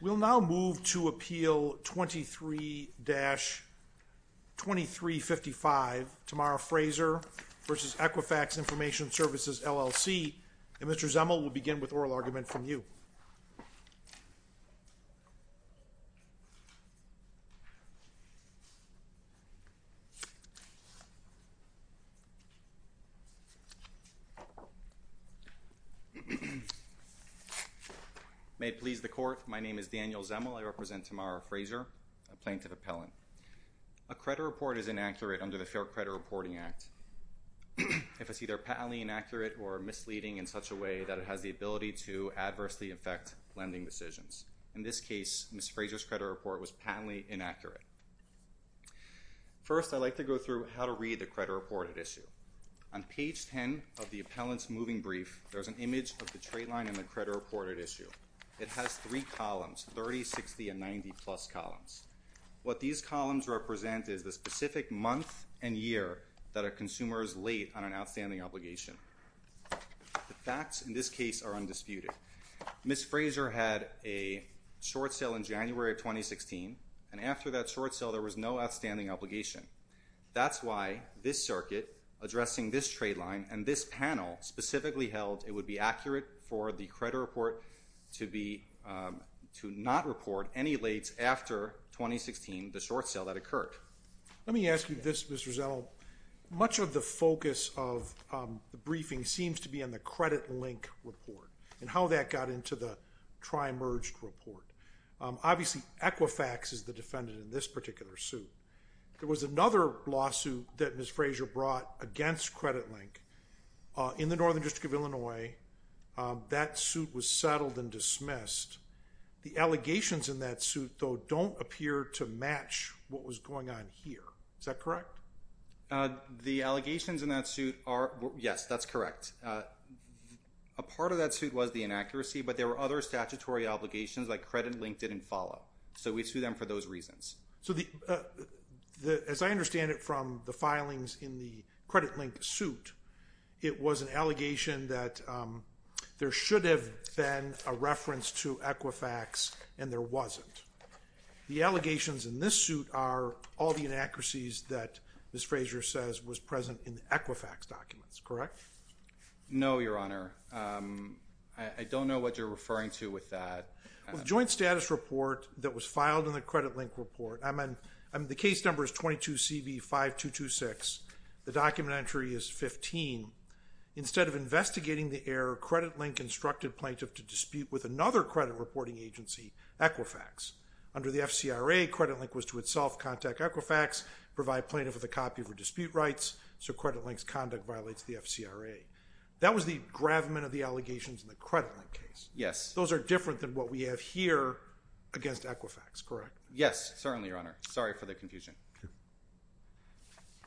We will now move to Appeal 23-2355, Tamara Frazier v. Equifax Information Services, LLC, and Mr. Zemel will begin with oral argument from you. May it please the Court, my name is Daniel Zemel. I represent Tamara Frazier, a plaintiff appellant. A credit report is inaccurate under the Fair Credit Reporting Act. If it's either patently inaccurate or misleading in such a way that it has the ability to adversely affect lending decisions. In this case, Ms. Frazier's credit report was patently inaccurate. First I'd like to go through how to read the credit reported issue. On page 10 of the appellant's moving brief, there's an image of the trade line and the credit reported issue. It has three columns, 30, 60, and 90 plus columns. What these columns represent is the specific month and year that a consumer is late on an outstanding obligation. The facts in this case are undisputed. Ms. Frazier had a short sale in January of 2016, and after that short sale there was no outstanding obligation. That's why this circuit addressing this trade line and this panel specifically held it would be accurate for the credit report to not report any lates after 2016, the short sale that occurred. Let me ask you this, Mr. Zenil. Much of the focus of the briefing seems to be on the credit link report and how that got into the tri-merged report. Obviously, Equifax is the defendant in this particular suit. There was another lawsuit that Ms. Frazier brought against credit link in the Northern District of Illinois. That suit was settled and dismissed. The allegations in that suit, though, don't appear to match what was going on here. Is that correct? The allegations in that suit are, yes, that's correct. A part of that suit was the inaccuracy, but there were other statutory obligations like credit link didn't follow. So we sue them for those reasons. As I understand it from the filings in the credit link suit, it was an allegation that there should have been a reference to Equifax and there wasn't. The allegations in this suit are all the inaccuracies that Ms. Frazier says was present in the Equifax documents, correct? No, Your Honor. I don't know what you're referring to with that. Joint status report that was filed in the credit link report, the case number is 22 instructed plaintiff to dispute with another credit reporting agency, Equifax. Under the FCRA, credit link was to itself contact Equifax, provide plaintiff with a copy of her dispute rights, so credit link's conduct violates the FCRA. That was the gravamen of the allegations in the credit link case. Those are different than what we have here against Equifax, correct? Yes, certainly, Your Honor. Sorry for the confusion.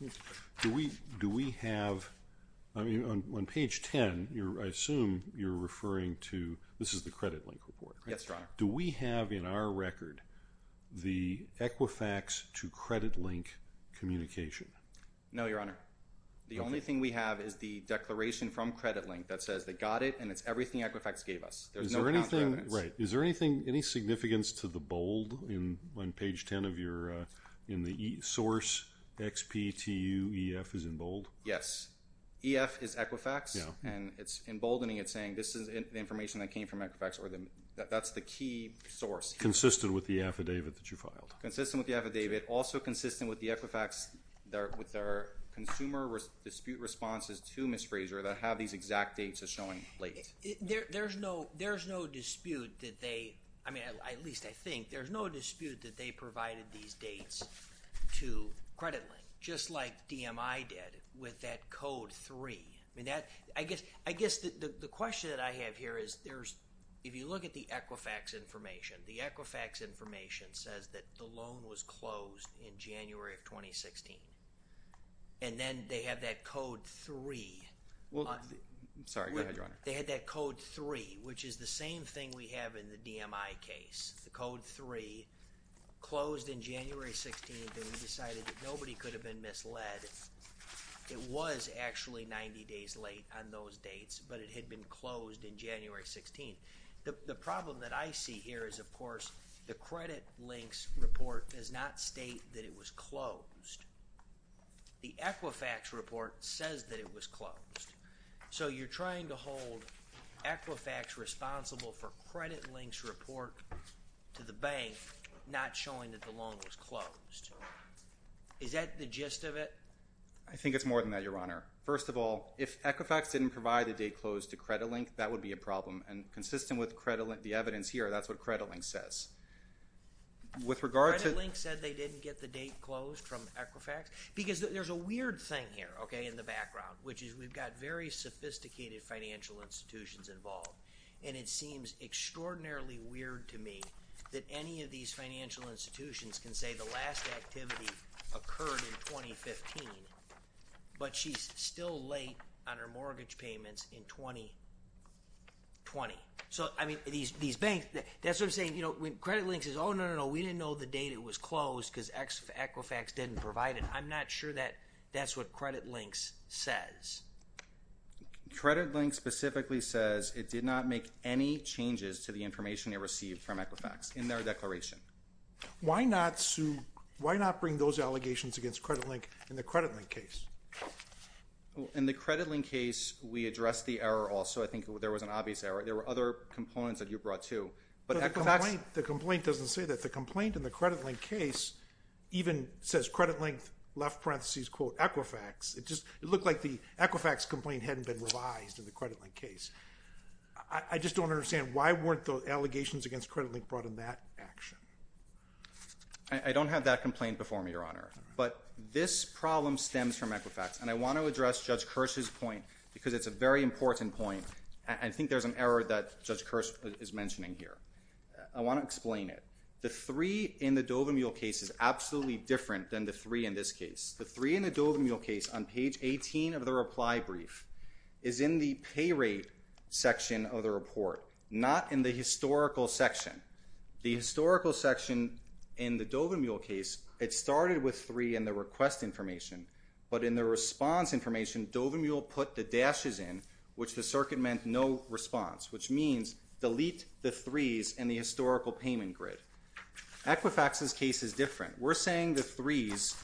Okay. Do we have, on page 10, I assume you're referring to, this is the credit link report, correct? Yes, Your Honor. Do we have in our record the Equifax to credit link communication? No, Your Honor. The only thing we have is the declaration from credit link that says they got it and it's everything Equifax gave us. There's no counter evidence. Right. Is there any significance to the bold on page 10 of your, in the source XPTUEF is in bold? Yes. EF is Equifax and it's emboldening it saying this is the information that came from Equifax or that's the key source. Consistent with the affidavit that you filed? Consistent with the affidavit, also consistent with the Equifax, with our consumer dispute responses to Ms. Fraser that have these exact dates as showing late. There's no dispute that they, I mean, at least I think, there's no dispute that they provided these dates to credit link, just like DMI did with that code three. I guess the question that I have here is there's, if you look at the Equifax information, the Equifax information says that the loan was closed in January of 2016 and then they have that code three... Sorry, go ahead, Your Honor. They had that code three, which is the same thing we have in the DMI case. The code three closed in January 16th and we decided that nobody could have been misled. It was actually 90 days late on those dates, but it had been closed in January 16th. The problem that I see here is, of course, the credit links report does not state that it was closed. The Equifax report says that it was closed. So you're trying to hold Equifax responsible for credit links report to the bank, not showing that the loan was closed. Is that the gist of it? I think it's more than that, Your Honor. First of all, if Equifax didn't provide the date closed to credit link, that would be a problem and consistent with the evidence here, that's what credit link says. With regard to... Credit link said they didn't get the date closed from Equifax? Because there's a weird thing here, okay, in the background, which is we've got very sophisticated financial institutions involved and it seems extraordinarily weird to me that any of these financial institutions can say the last activity occurred in 2015, but she's still late on her mortgage payments in 2020. So, I mean, these banks, that's what I'm saying, you know, credit link says, oh, no, no, no, we didn't know the date it was closed because Equifax didn't provide it. I'm not sure that that's what credit links says. Credit link specifically says it did not make any changes to the information it received from Equifax in their declaration. Why not bring those allegations against credit link in the credit link case? In the credit link case, we addressed the error also. I think there was an obvious error. There were other components that you brought too, but Equifax... The complaint doesn't say that. The complaint in the credit link case even says credit link, left parenthesis, Equifax. It looked like the Equifax complaint hadn't been revised in the credit link case. I just don't understand why weren't the allegations against credit link brought in that action? I don't have that complaint before me, Your Honor, but this problem stems from Equifax and I want to address Judge Kirsch's point because it's a very important point. I think there's an error that Judge Kirsch is mentioning here. I want to explain it. The three in the Dovermuhl case is absolutely different than the three in this case. The three in the Dovermuhl case on page 18 of the reply brief is in the pay rate section of the report, not in the historical section. The historical section in the Dovermuhl case, it started with three in the request information, but in the response information, Dovermuhl put the dashes in, which the circuit meant no response, which means delete the threes in the historical payment grid. Equifax's case is different. We're saying the threes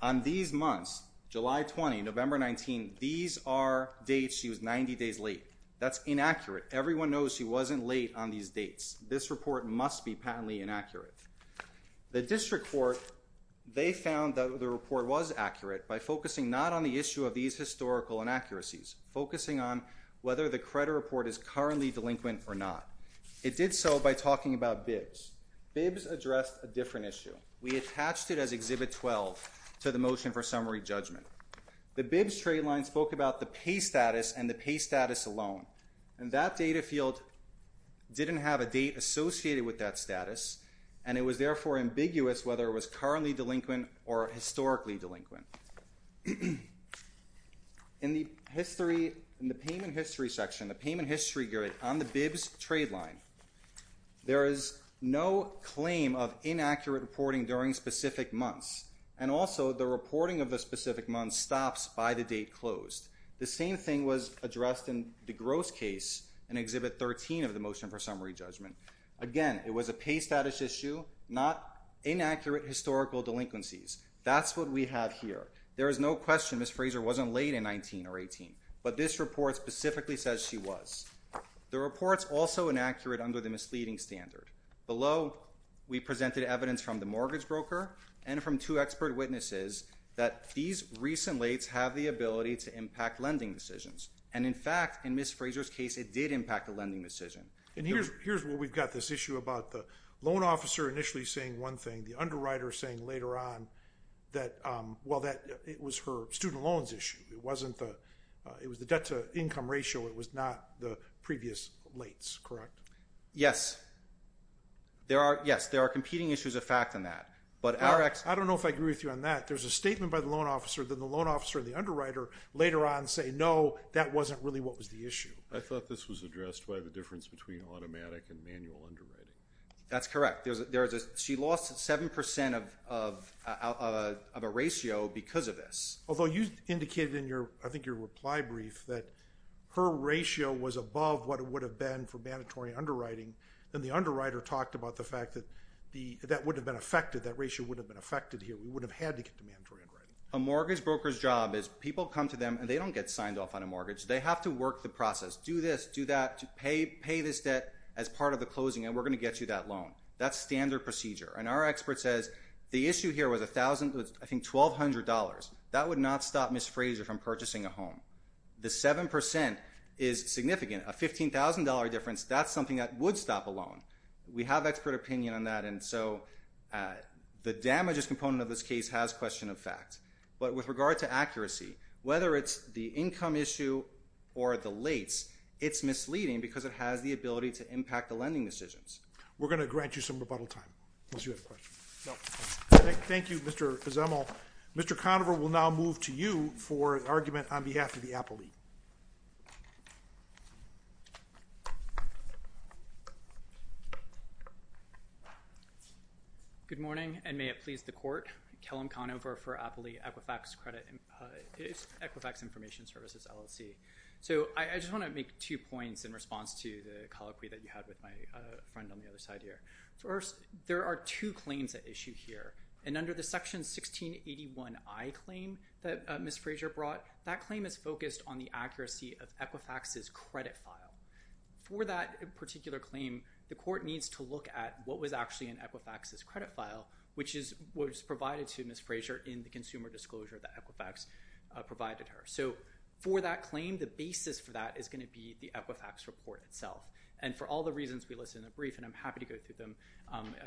on these months, July 20, November 19, these are dates she was 90 days late. That's inaccurate. Everyone knows she wasn't late on these dates. This report must be patently inaccurate. The district court, they found that the report was accurate by focusing not on the issue of these historical inaccuracies, focusing on whether the credit report is currently delinquent or not. It did so by talking about BIBS. BIBS addressed a different issue. We attached it as Exhibit 12 to the motion for summary judgment. The BIBS trade line spoke about the pay status and the pay status alone, and that data field didn't have a date associated with that status, and it was therefore ambiguous whether it was currently delinquent or historically delinquent. In the history, in the payment history section, the payment history grid on the BIBS trade line, there is no claim of inaccurate reporting during specific months, and also the reporting of a specific month stops by the date closed. The same thing was addressed in DeGrosse case in Exhibit 13 of the motion for summary judgment. Again, it was a pay status issue, not inaccurate historical delinquencies. That's what we have here. There is no question Ms. Fraser wasn't late in 19 or 18, but this report specifically says she was. The report's also inaccurate under the misleading standard. Below, we presented evidence from the mortgage broker and from two expert witnesses that these recent lates have the ability to impact lending decisions, and in fact, in Ms. Fraser's case, it did impact the lending decision. And here's where we've got this issue about the loan officer initially saying one thing, the underwriter saying later on that, well, that it was her student loans issue. It wasn't the, it was the debt to income ratio. It was not the previous lates, correct? Yes. There are, yes, there are competing issues of fact in that, but our ex- I don't know if I agree with you on that. There's a statement by the loan officer that the loan officer and the underwriter later on say, no, that wasn't really what was the issue. I thought this was addressed by the difference between automatic and manual underwriting. That's correct. There's a, she lost 7% of a ratio because of this. Although you indicated in your, I think your reply brief that her ratio was above what it would have been for mandatory underwriting, and the underwriter talked about the fact that the, that would have been affected, that ratio would have been affected here. We would have had to get to mandatory underwriting. A mortgage broker's job is people come to a mortgage, they have to work the process, do this, do that, pay this debt as part of the closing, and we're going to get you that loan. That's standard procedure, and our expert says the issue here was $1,000, I think $1,200. That would not stop Ms. Fraser from purchasing a home. The 7% is significant, a $15,000 difference, that's something that would stop a loan. We have expert opinion on that, and so the damages component of this case has question of fact. But with regard to accuracy, whether it's the income issue or the lates, it's misleading because it has the ability to impact the lending decisions. We're going to grant you some rebuttal time, unless you have a question. Thank you, Mr. Kazemel. Mr. Conover will now move to you for an argument on behalf of the Denver Appley Equifax Information Services LLC. I just want to make two points in response to the colloquy that you had with my friend on the other side here. First, there are two claims at issue here, and under the Section 1681I claim that Ms. Fraser brought, that claim is focused on the accuracy of Equifax's credit file. For that particular claim, the court needs to look at what was actually in Equifax's credit file, which was provided to Ms. Fraser in the consumer disclosure that Equifax provided her. So for that claim, the basis for that is going to be the Equifax report itself. And for all the reasons we listed in the brief, and I'm happy to go through them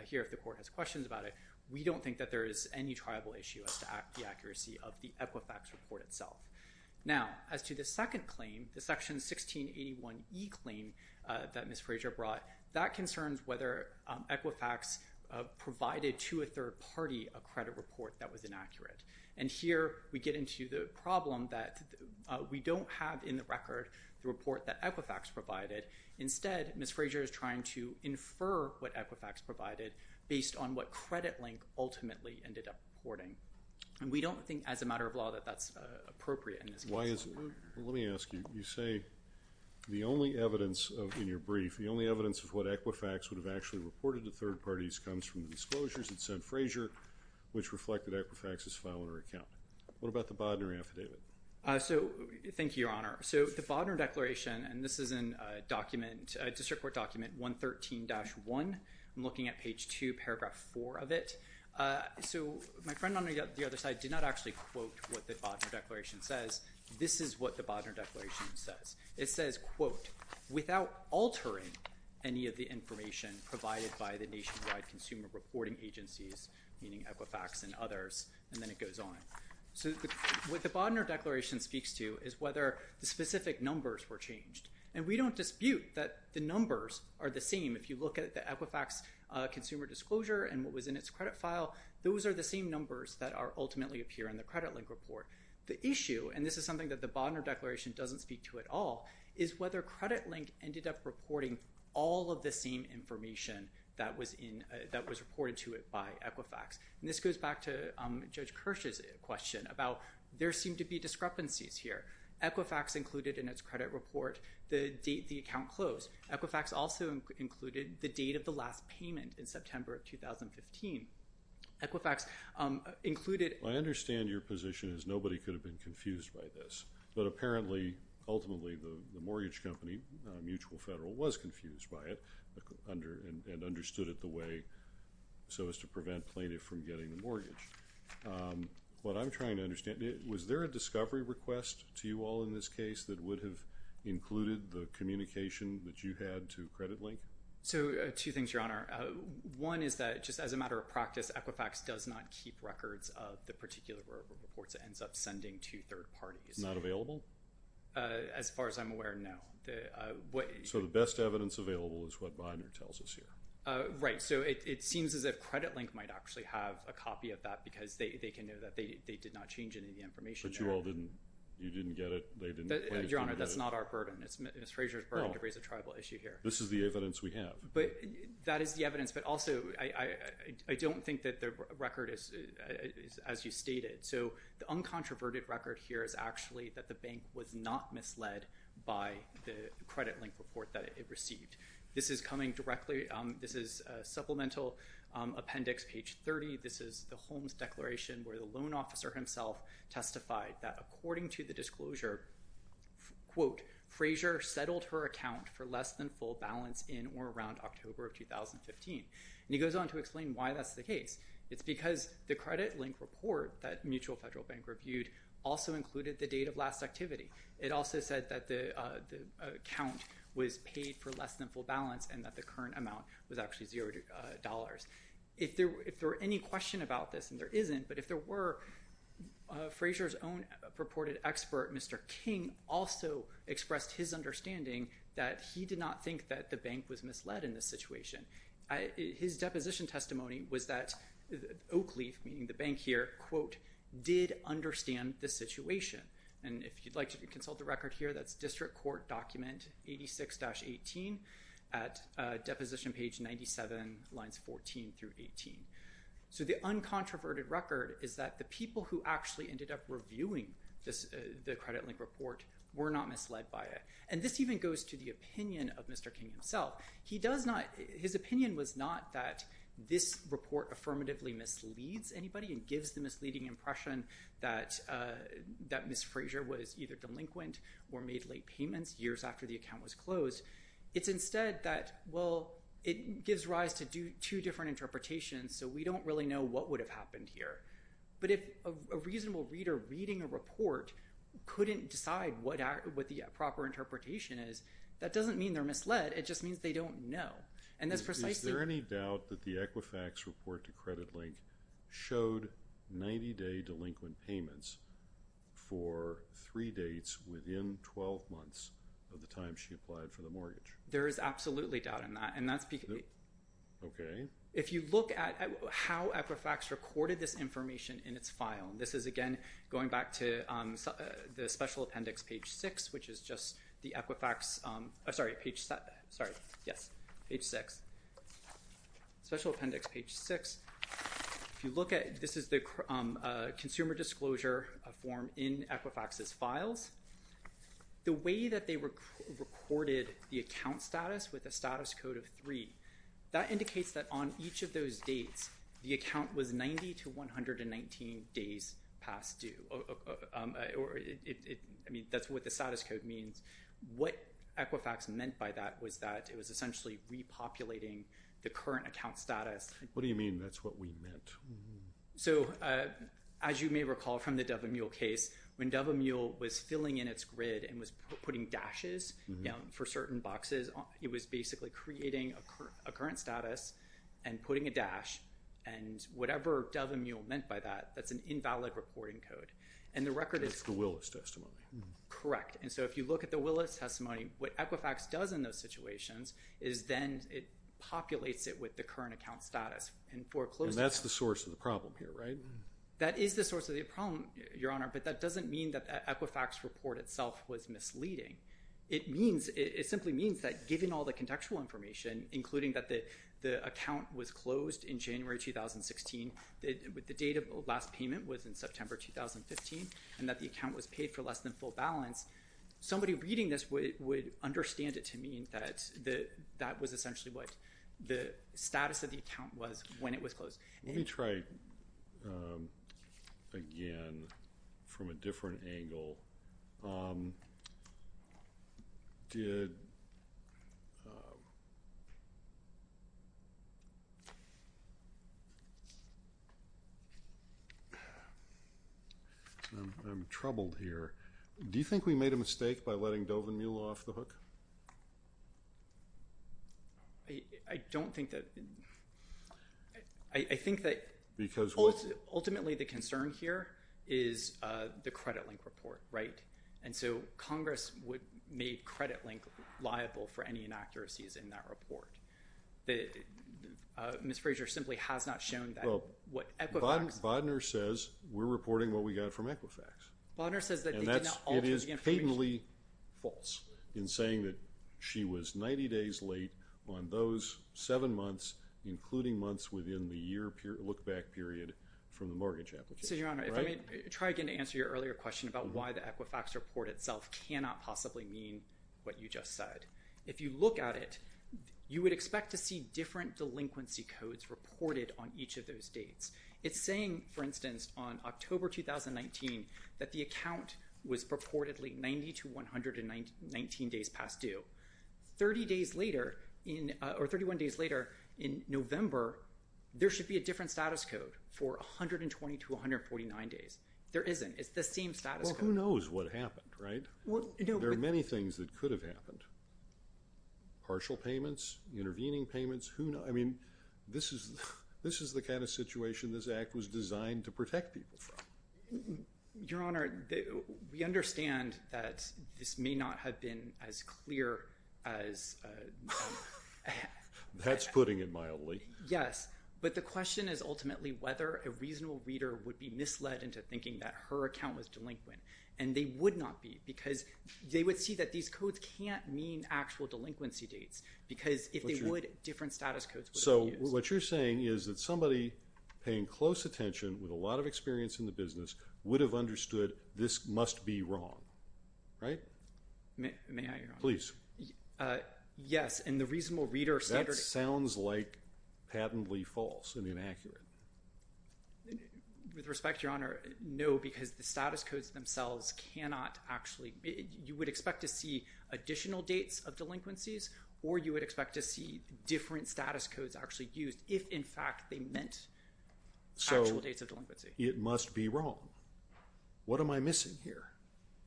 here if the court has questions about it, we don't think that there is any triable issue as to the accuracy of the Equifax report itself. Now, as to the second claim, the Section 1681E claim that Ms. Fraser brought, that concerns whether Equifax provided to a third party a credit report that was inaccurate. And here we get into the problem that we don't have in the record the report that Equifax provided. Instead, Ms. Fraser is trying to infer what Equifax provided based on what Credit Link ultimately ended up reporting. And we don't think as a matter of law that that's appropriate in this case. Why is it? Let me ask you. You say the only evidence in your brief, the only evidence of what Equifax would have actually reported to third parties comes from the disclosures that Ms. Fraser, which reflected Equifax's file in her account. What about the Bodner affidavit? So, thank you, Your Honor. So, the Bodner Declaration, and this is in a document, a district court document, 113-1. I'm looking at page 2, paragraph 4 of it. So, my friend on the other side did not actually quote what the Bodner Declaration says. This is what the Bodner Declaration says. It says, quote, without altering any of the information provided by the nationwide consumer reporting agencies, meaning Equifax and others, and then it goes on. So, what the Bodner Declaration speaks to is whether the specific numbers were changed. And we don't dispute that the numbers are the same. If you look at the Equifax consumer disclosure and what was in its credit file, those are the same numbers that ultimately appear in the Credit Link report. The issue, and this is something that the Bodner Declaration doesn't speak to at all, is whether Credit Link ended up reporting all of the same information that was in, that was reported to it by Equifax. And this goes back to Judge Kirsch's question about there seemed to be discrepancies here. Equifax included in its credit report the date the account closed. Equifax also included the date of the last payment in September of 2015. Equifax included... I understand your position is nobody could have been confused by this. But apparently, ultimately, the mortgage company, Mutual Federal, was confused by it and understood it the way so as to prevent plaintiff from getting the mortgage. What I'm trying to understand, was there a discovery request to you all in this case that would have included the communication that you had to Credit Link? So, two things, Your Honor. One is that just as a matter of practice, Equifax does not keep records of the particular reports it ends up sending to third parties. Not available? As far as I'm aware, no. So the best evidence available is what Bodner tells us here. Right. So it seems as if Credit Link might actually have a copy of that because they can know that they did not change any of the information. But you all didn't, you didn't get it? They didn't... Your Honor, that's not our burden. It's Ms. Fraser's burden to raise a tribal issue here. This is the evidence we have. But that is the evidence. But also, I don't think that the record is as you stated. So the uncontroverted record here is actually that the bank was not misled by the Credit Link report that it received. This is coming directly, this is supplemental appendix page 30. This is the Holmes declaration where the loan officer himself testified that according to the disclosure, quote, Fraser settled her account for less than full balance in or around October of 2015. And he goes on to explain why that's the case. It's because the Credit Link report that Mutual Federal Bank reviewed also included the date of last activity. It also said that the account was paid for less than full balance and that the current amount was actually $0. If there were any question about this, and there isn't, but if there were, Fraser's own purported expert, Mr. King, also expressed his understanding that he did not think that the bank was misled in this situation. His deposition testimony was that Oakleaf, meaning the bank here, quote, did understand the situation. And if you'd like to consult the record here, that's district court document 86-18 at deposition page 97, lines 14 through 18. So the uncontroverted record is that the people who actually ended up reviewing the Credit Link report were not misled by it. And this even goes to the opinion of Mr. King himself. His opinion was not that this report affirmatively misleads anybody and gives the misleading impression that Ms. Fraser was either delinquent or made late payments years after the account was closed. It's instead that, well, it gives rise to two different interpretations, so we don't really know what would have happened here. But if a reasonable reader reading a report couldn't decide what the proper interpretation is, that doesn't mean they're misled. It just means they don't know. Is there any doubt that the Equifax report to Credit Link showed 90-day delinquent payments for three dates within 12 months of the time she applied for the mortgage? There is absolutely doubt in that. Okay. If you look at how Equifax recorded this information in its file, and this is, again, going back to the special appendix, page 6, which is just the Equifax… I'm sorry, page 7. Sorry. Yes. Page 6. Special appendix, page 6. If you look at… This is the consumer disclosure form in Equifax's files. The way that they recorded the account status with a status code of 3, that indicates that on each of those dates, the account was 90 to 119 days past due. I mean, that's what the status code means. What Equifax meant by that was that it was essentially repopulating the current account status. What do you mean, that's what we meant? So as you may recall from the Dove & Mule case, when Dove & Mule was filling in its grid and was putting dashes for certain boxes, it was basically creating a current status and putting a dash, and whatever Dove & Mule meant by that, that's an invalid reporting code. And the record is… That's the Willis testimony. Correct. And so if you look at the Willis testimony, what Equifax does in those situations is then it populates it with the current account status. And that's the source of the problem here, right? That is the source of the problem, Your Honor, but that doesn't mean that the Equifax report itself was misleading. It means… It simply means that given all the contextual information, including that the account was closed in January 2016, the date of the last payment was in September 2015, and that the account was paid for less than full balance, somebody reading this would understand it to mean that that was essentially what the status of the account was when it was closed. Let me try again from a different angle. Did… I'm troubled here. Do you think we made a mistake by letting Dove & Mule off the hook? I don't think that… I think that… Because what? Ultimately, the concern here is the credit link report, right? And so Congress would make credit link liable for any inaccuracies in that report. Ms. Fraser simply has not shown that what Equifax… Well, Bodner says we're reporting what we got from Equifax. Bodner says that they did not alter the information… And that's… It is patently false in saying that she was 90 days late on those seven months, including months within the year look-back period, from the mortgage application, right? So, Your Honor, if I may try again to answer your earlier question about why the Equifax report itself cannot possibly mean what you just said, if you look at it, you would expect to see different delinquency codes reported on each of those dates. It's saying, for instance, on October 2019, that the account was purportedly 90 to 119 days past due. Thirty days later, or 31 days later in November, there should be a different status code for 120 to 149 days. There isn't. It's the same status code. Well, who knows what happened, right? There are many things that could have happened. Partial payments, intervening payments, who knows? I mean, this is the kind of situation this Act was designed to protect people from. Your Honor, we understand that this may not have been as clear as… That's putting it mildly. Yes. But the question is ultimately whether a reasonable reader would be misled into thinking that her account was delinquent. And they would not be, because they would see that these codes can't mean actual delinquency dates, because if they would, different status codes would be used. So what you're saying is that somebody paying close attention with a lot of experience in the business would have understood this must be wrong, right? May I, Your Honor? Please. Yes, and the reasonable reader… That sounds like patently false and inaccurate. With respect, Your Honor, no, because the status codes themselves cannot actually… You would expect to see additional dates of delinquencies or you would expect to see different status codes actually used if in fact they meant actual dates of delinquency. So it must be wrong. What am I missing here?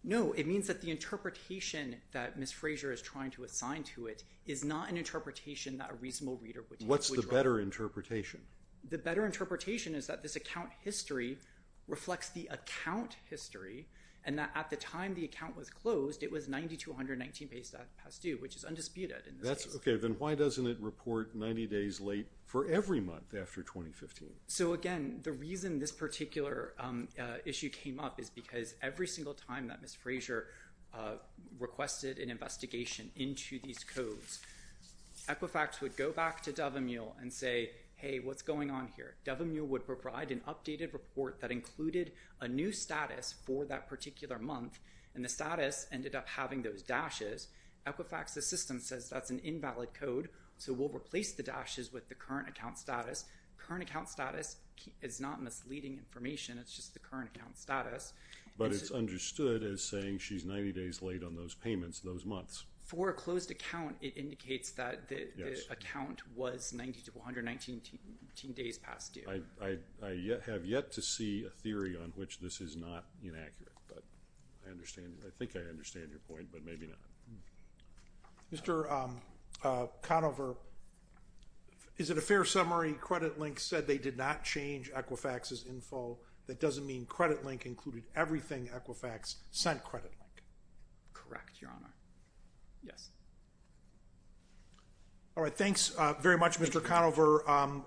No, it means that the interpretation that Ms. Fraser is trying to assign to it is not an interpretation that a reasonable reader would take. What's the better interpretation? The better interpretation is that this account history reflects the account history and that at the time the account was closed, it was 9219 days past due, which is undisputed. Okay, then why doesn't it report 90 days late for every month after 2015? So again, the reason this particular issue came up is because every single time that Ms. Fraser requested an investigation into these codes, Equifax would go back to Dove and Mule and say, hey, what's going on here? Dove and Mule would provide an updated report that included a new status for that particular month and the status ended up having those dashes. Equifax's system says that's an invalid code, so we'll replace the dashes with the current account status. Current account status is not misleading information, it's just the current account status. But it's understood as saying she's 90 days late on those payments, those months. For a closed account, it indicates that the account was 9219 days past due. I have yet to see a theory on which this is not inaccurate, but I think I understand your point, but maybe not. Mr. Conover, is it a fair summary? Credit Link said they did not change Equifax's info. That doesn't mean Credit Link included everything Equifax sent Credit Link. Correct, Your Honor. Yes. All right. Thanks very much, Mr. Conover.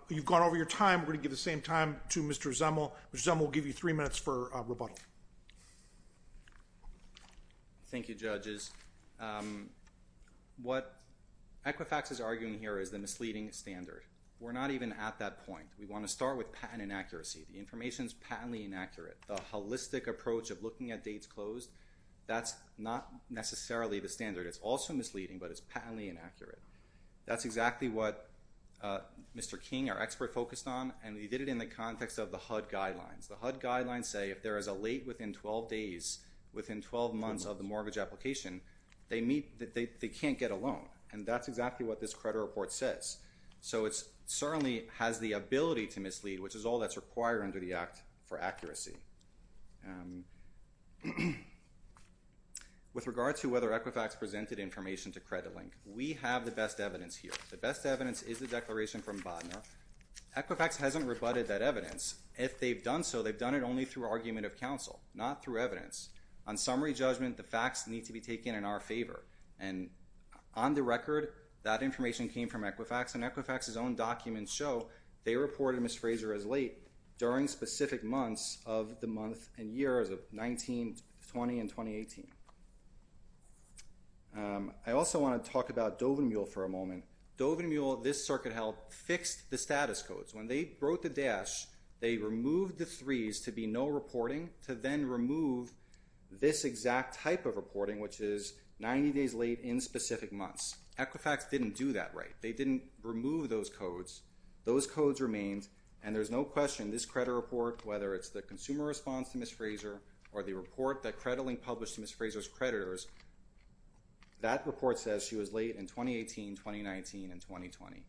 You've gone over your time. We're going to give the same time to Mr. Zemel. Mr. Zemel will give you three minutes for rebuttal. Thank you, judges. What Equifax is arguing here is the misleading standard. We're not even at that point. We want to start with patent inaccuracy. The information's patently inaccurate. The holistic approach of looking at dates closed, that's not necessarily the standard. It's also misleading, but it's patently inaccurate. That's exactly what Mr. King, our expert, focused on, and he did it in the context of the HUD guidelines. The HUD guidelines say if there is a late within 12 days, within 12 months of the mortgage application, they can't get a loan, and that's exactly what this credit report says. So it certainly has the ability to mislead, which is all that's required under the Act for accuracy. With regard to whether Equifax presented information to CreditLink, we have the best evidence here. The best evidence is the declaration from Bodna. Equifax hasn't rebutted that evidence. If they've done so, they've done it only through argument of counsel, not through evidence. On summary judgment, the facts need to be taken in our favor, and on the record, that information came from Equifax, and Equifax's own documents show they reported Ms. Fraser as late during specific months of the month and year as of 1920 and 2018. I also want to talk about Dovenmule for a moment. Dovenmule, this circuit held, fixed the status codes. When they broke the dash, they removed the 3s to be no reporting, to then remove this exact type of reporting, which is 90 days late in specific months. Equifax didn't do that right. They didn't remove those codes. Those codes remained, and there's no question this credit report, whether it's the consumer response to Ms. Fraser or the report that CreditLink published to Ms. Fraser's creditors, that report says she was late in 2018, 2019, and 2020.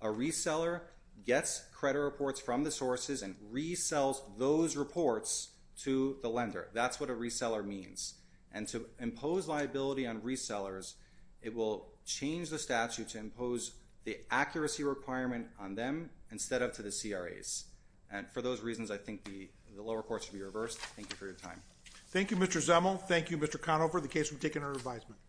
A reseller gets credit reports from the sources and resells those reports to the lender. That's what a reseller means. And to impose liability on resellers, it will change the statute to impose the accuracy requirement on them instead of to the CRAs. For those reasons, I think the lower courts should be reversed. Thank you for your time. Thank you, Mr. Zemel. Thank you, Mr. Conover, the case will be taken under advisement.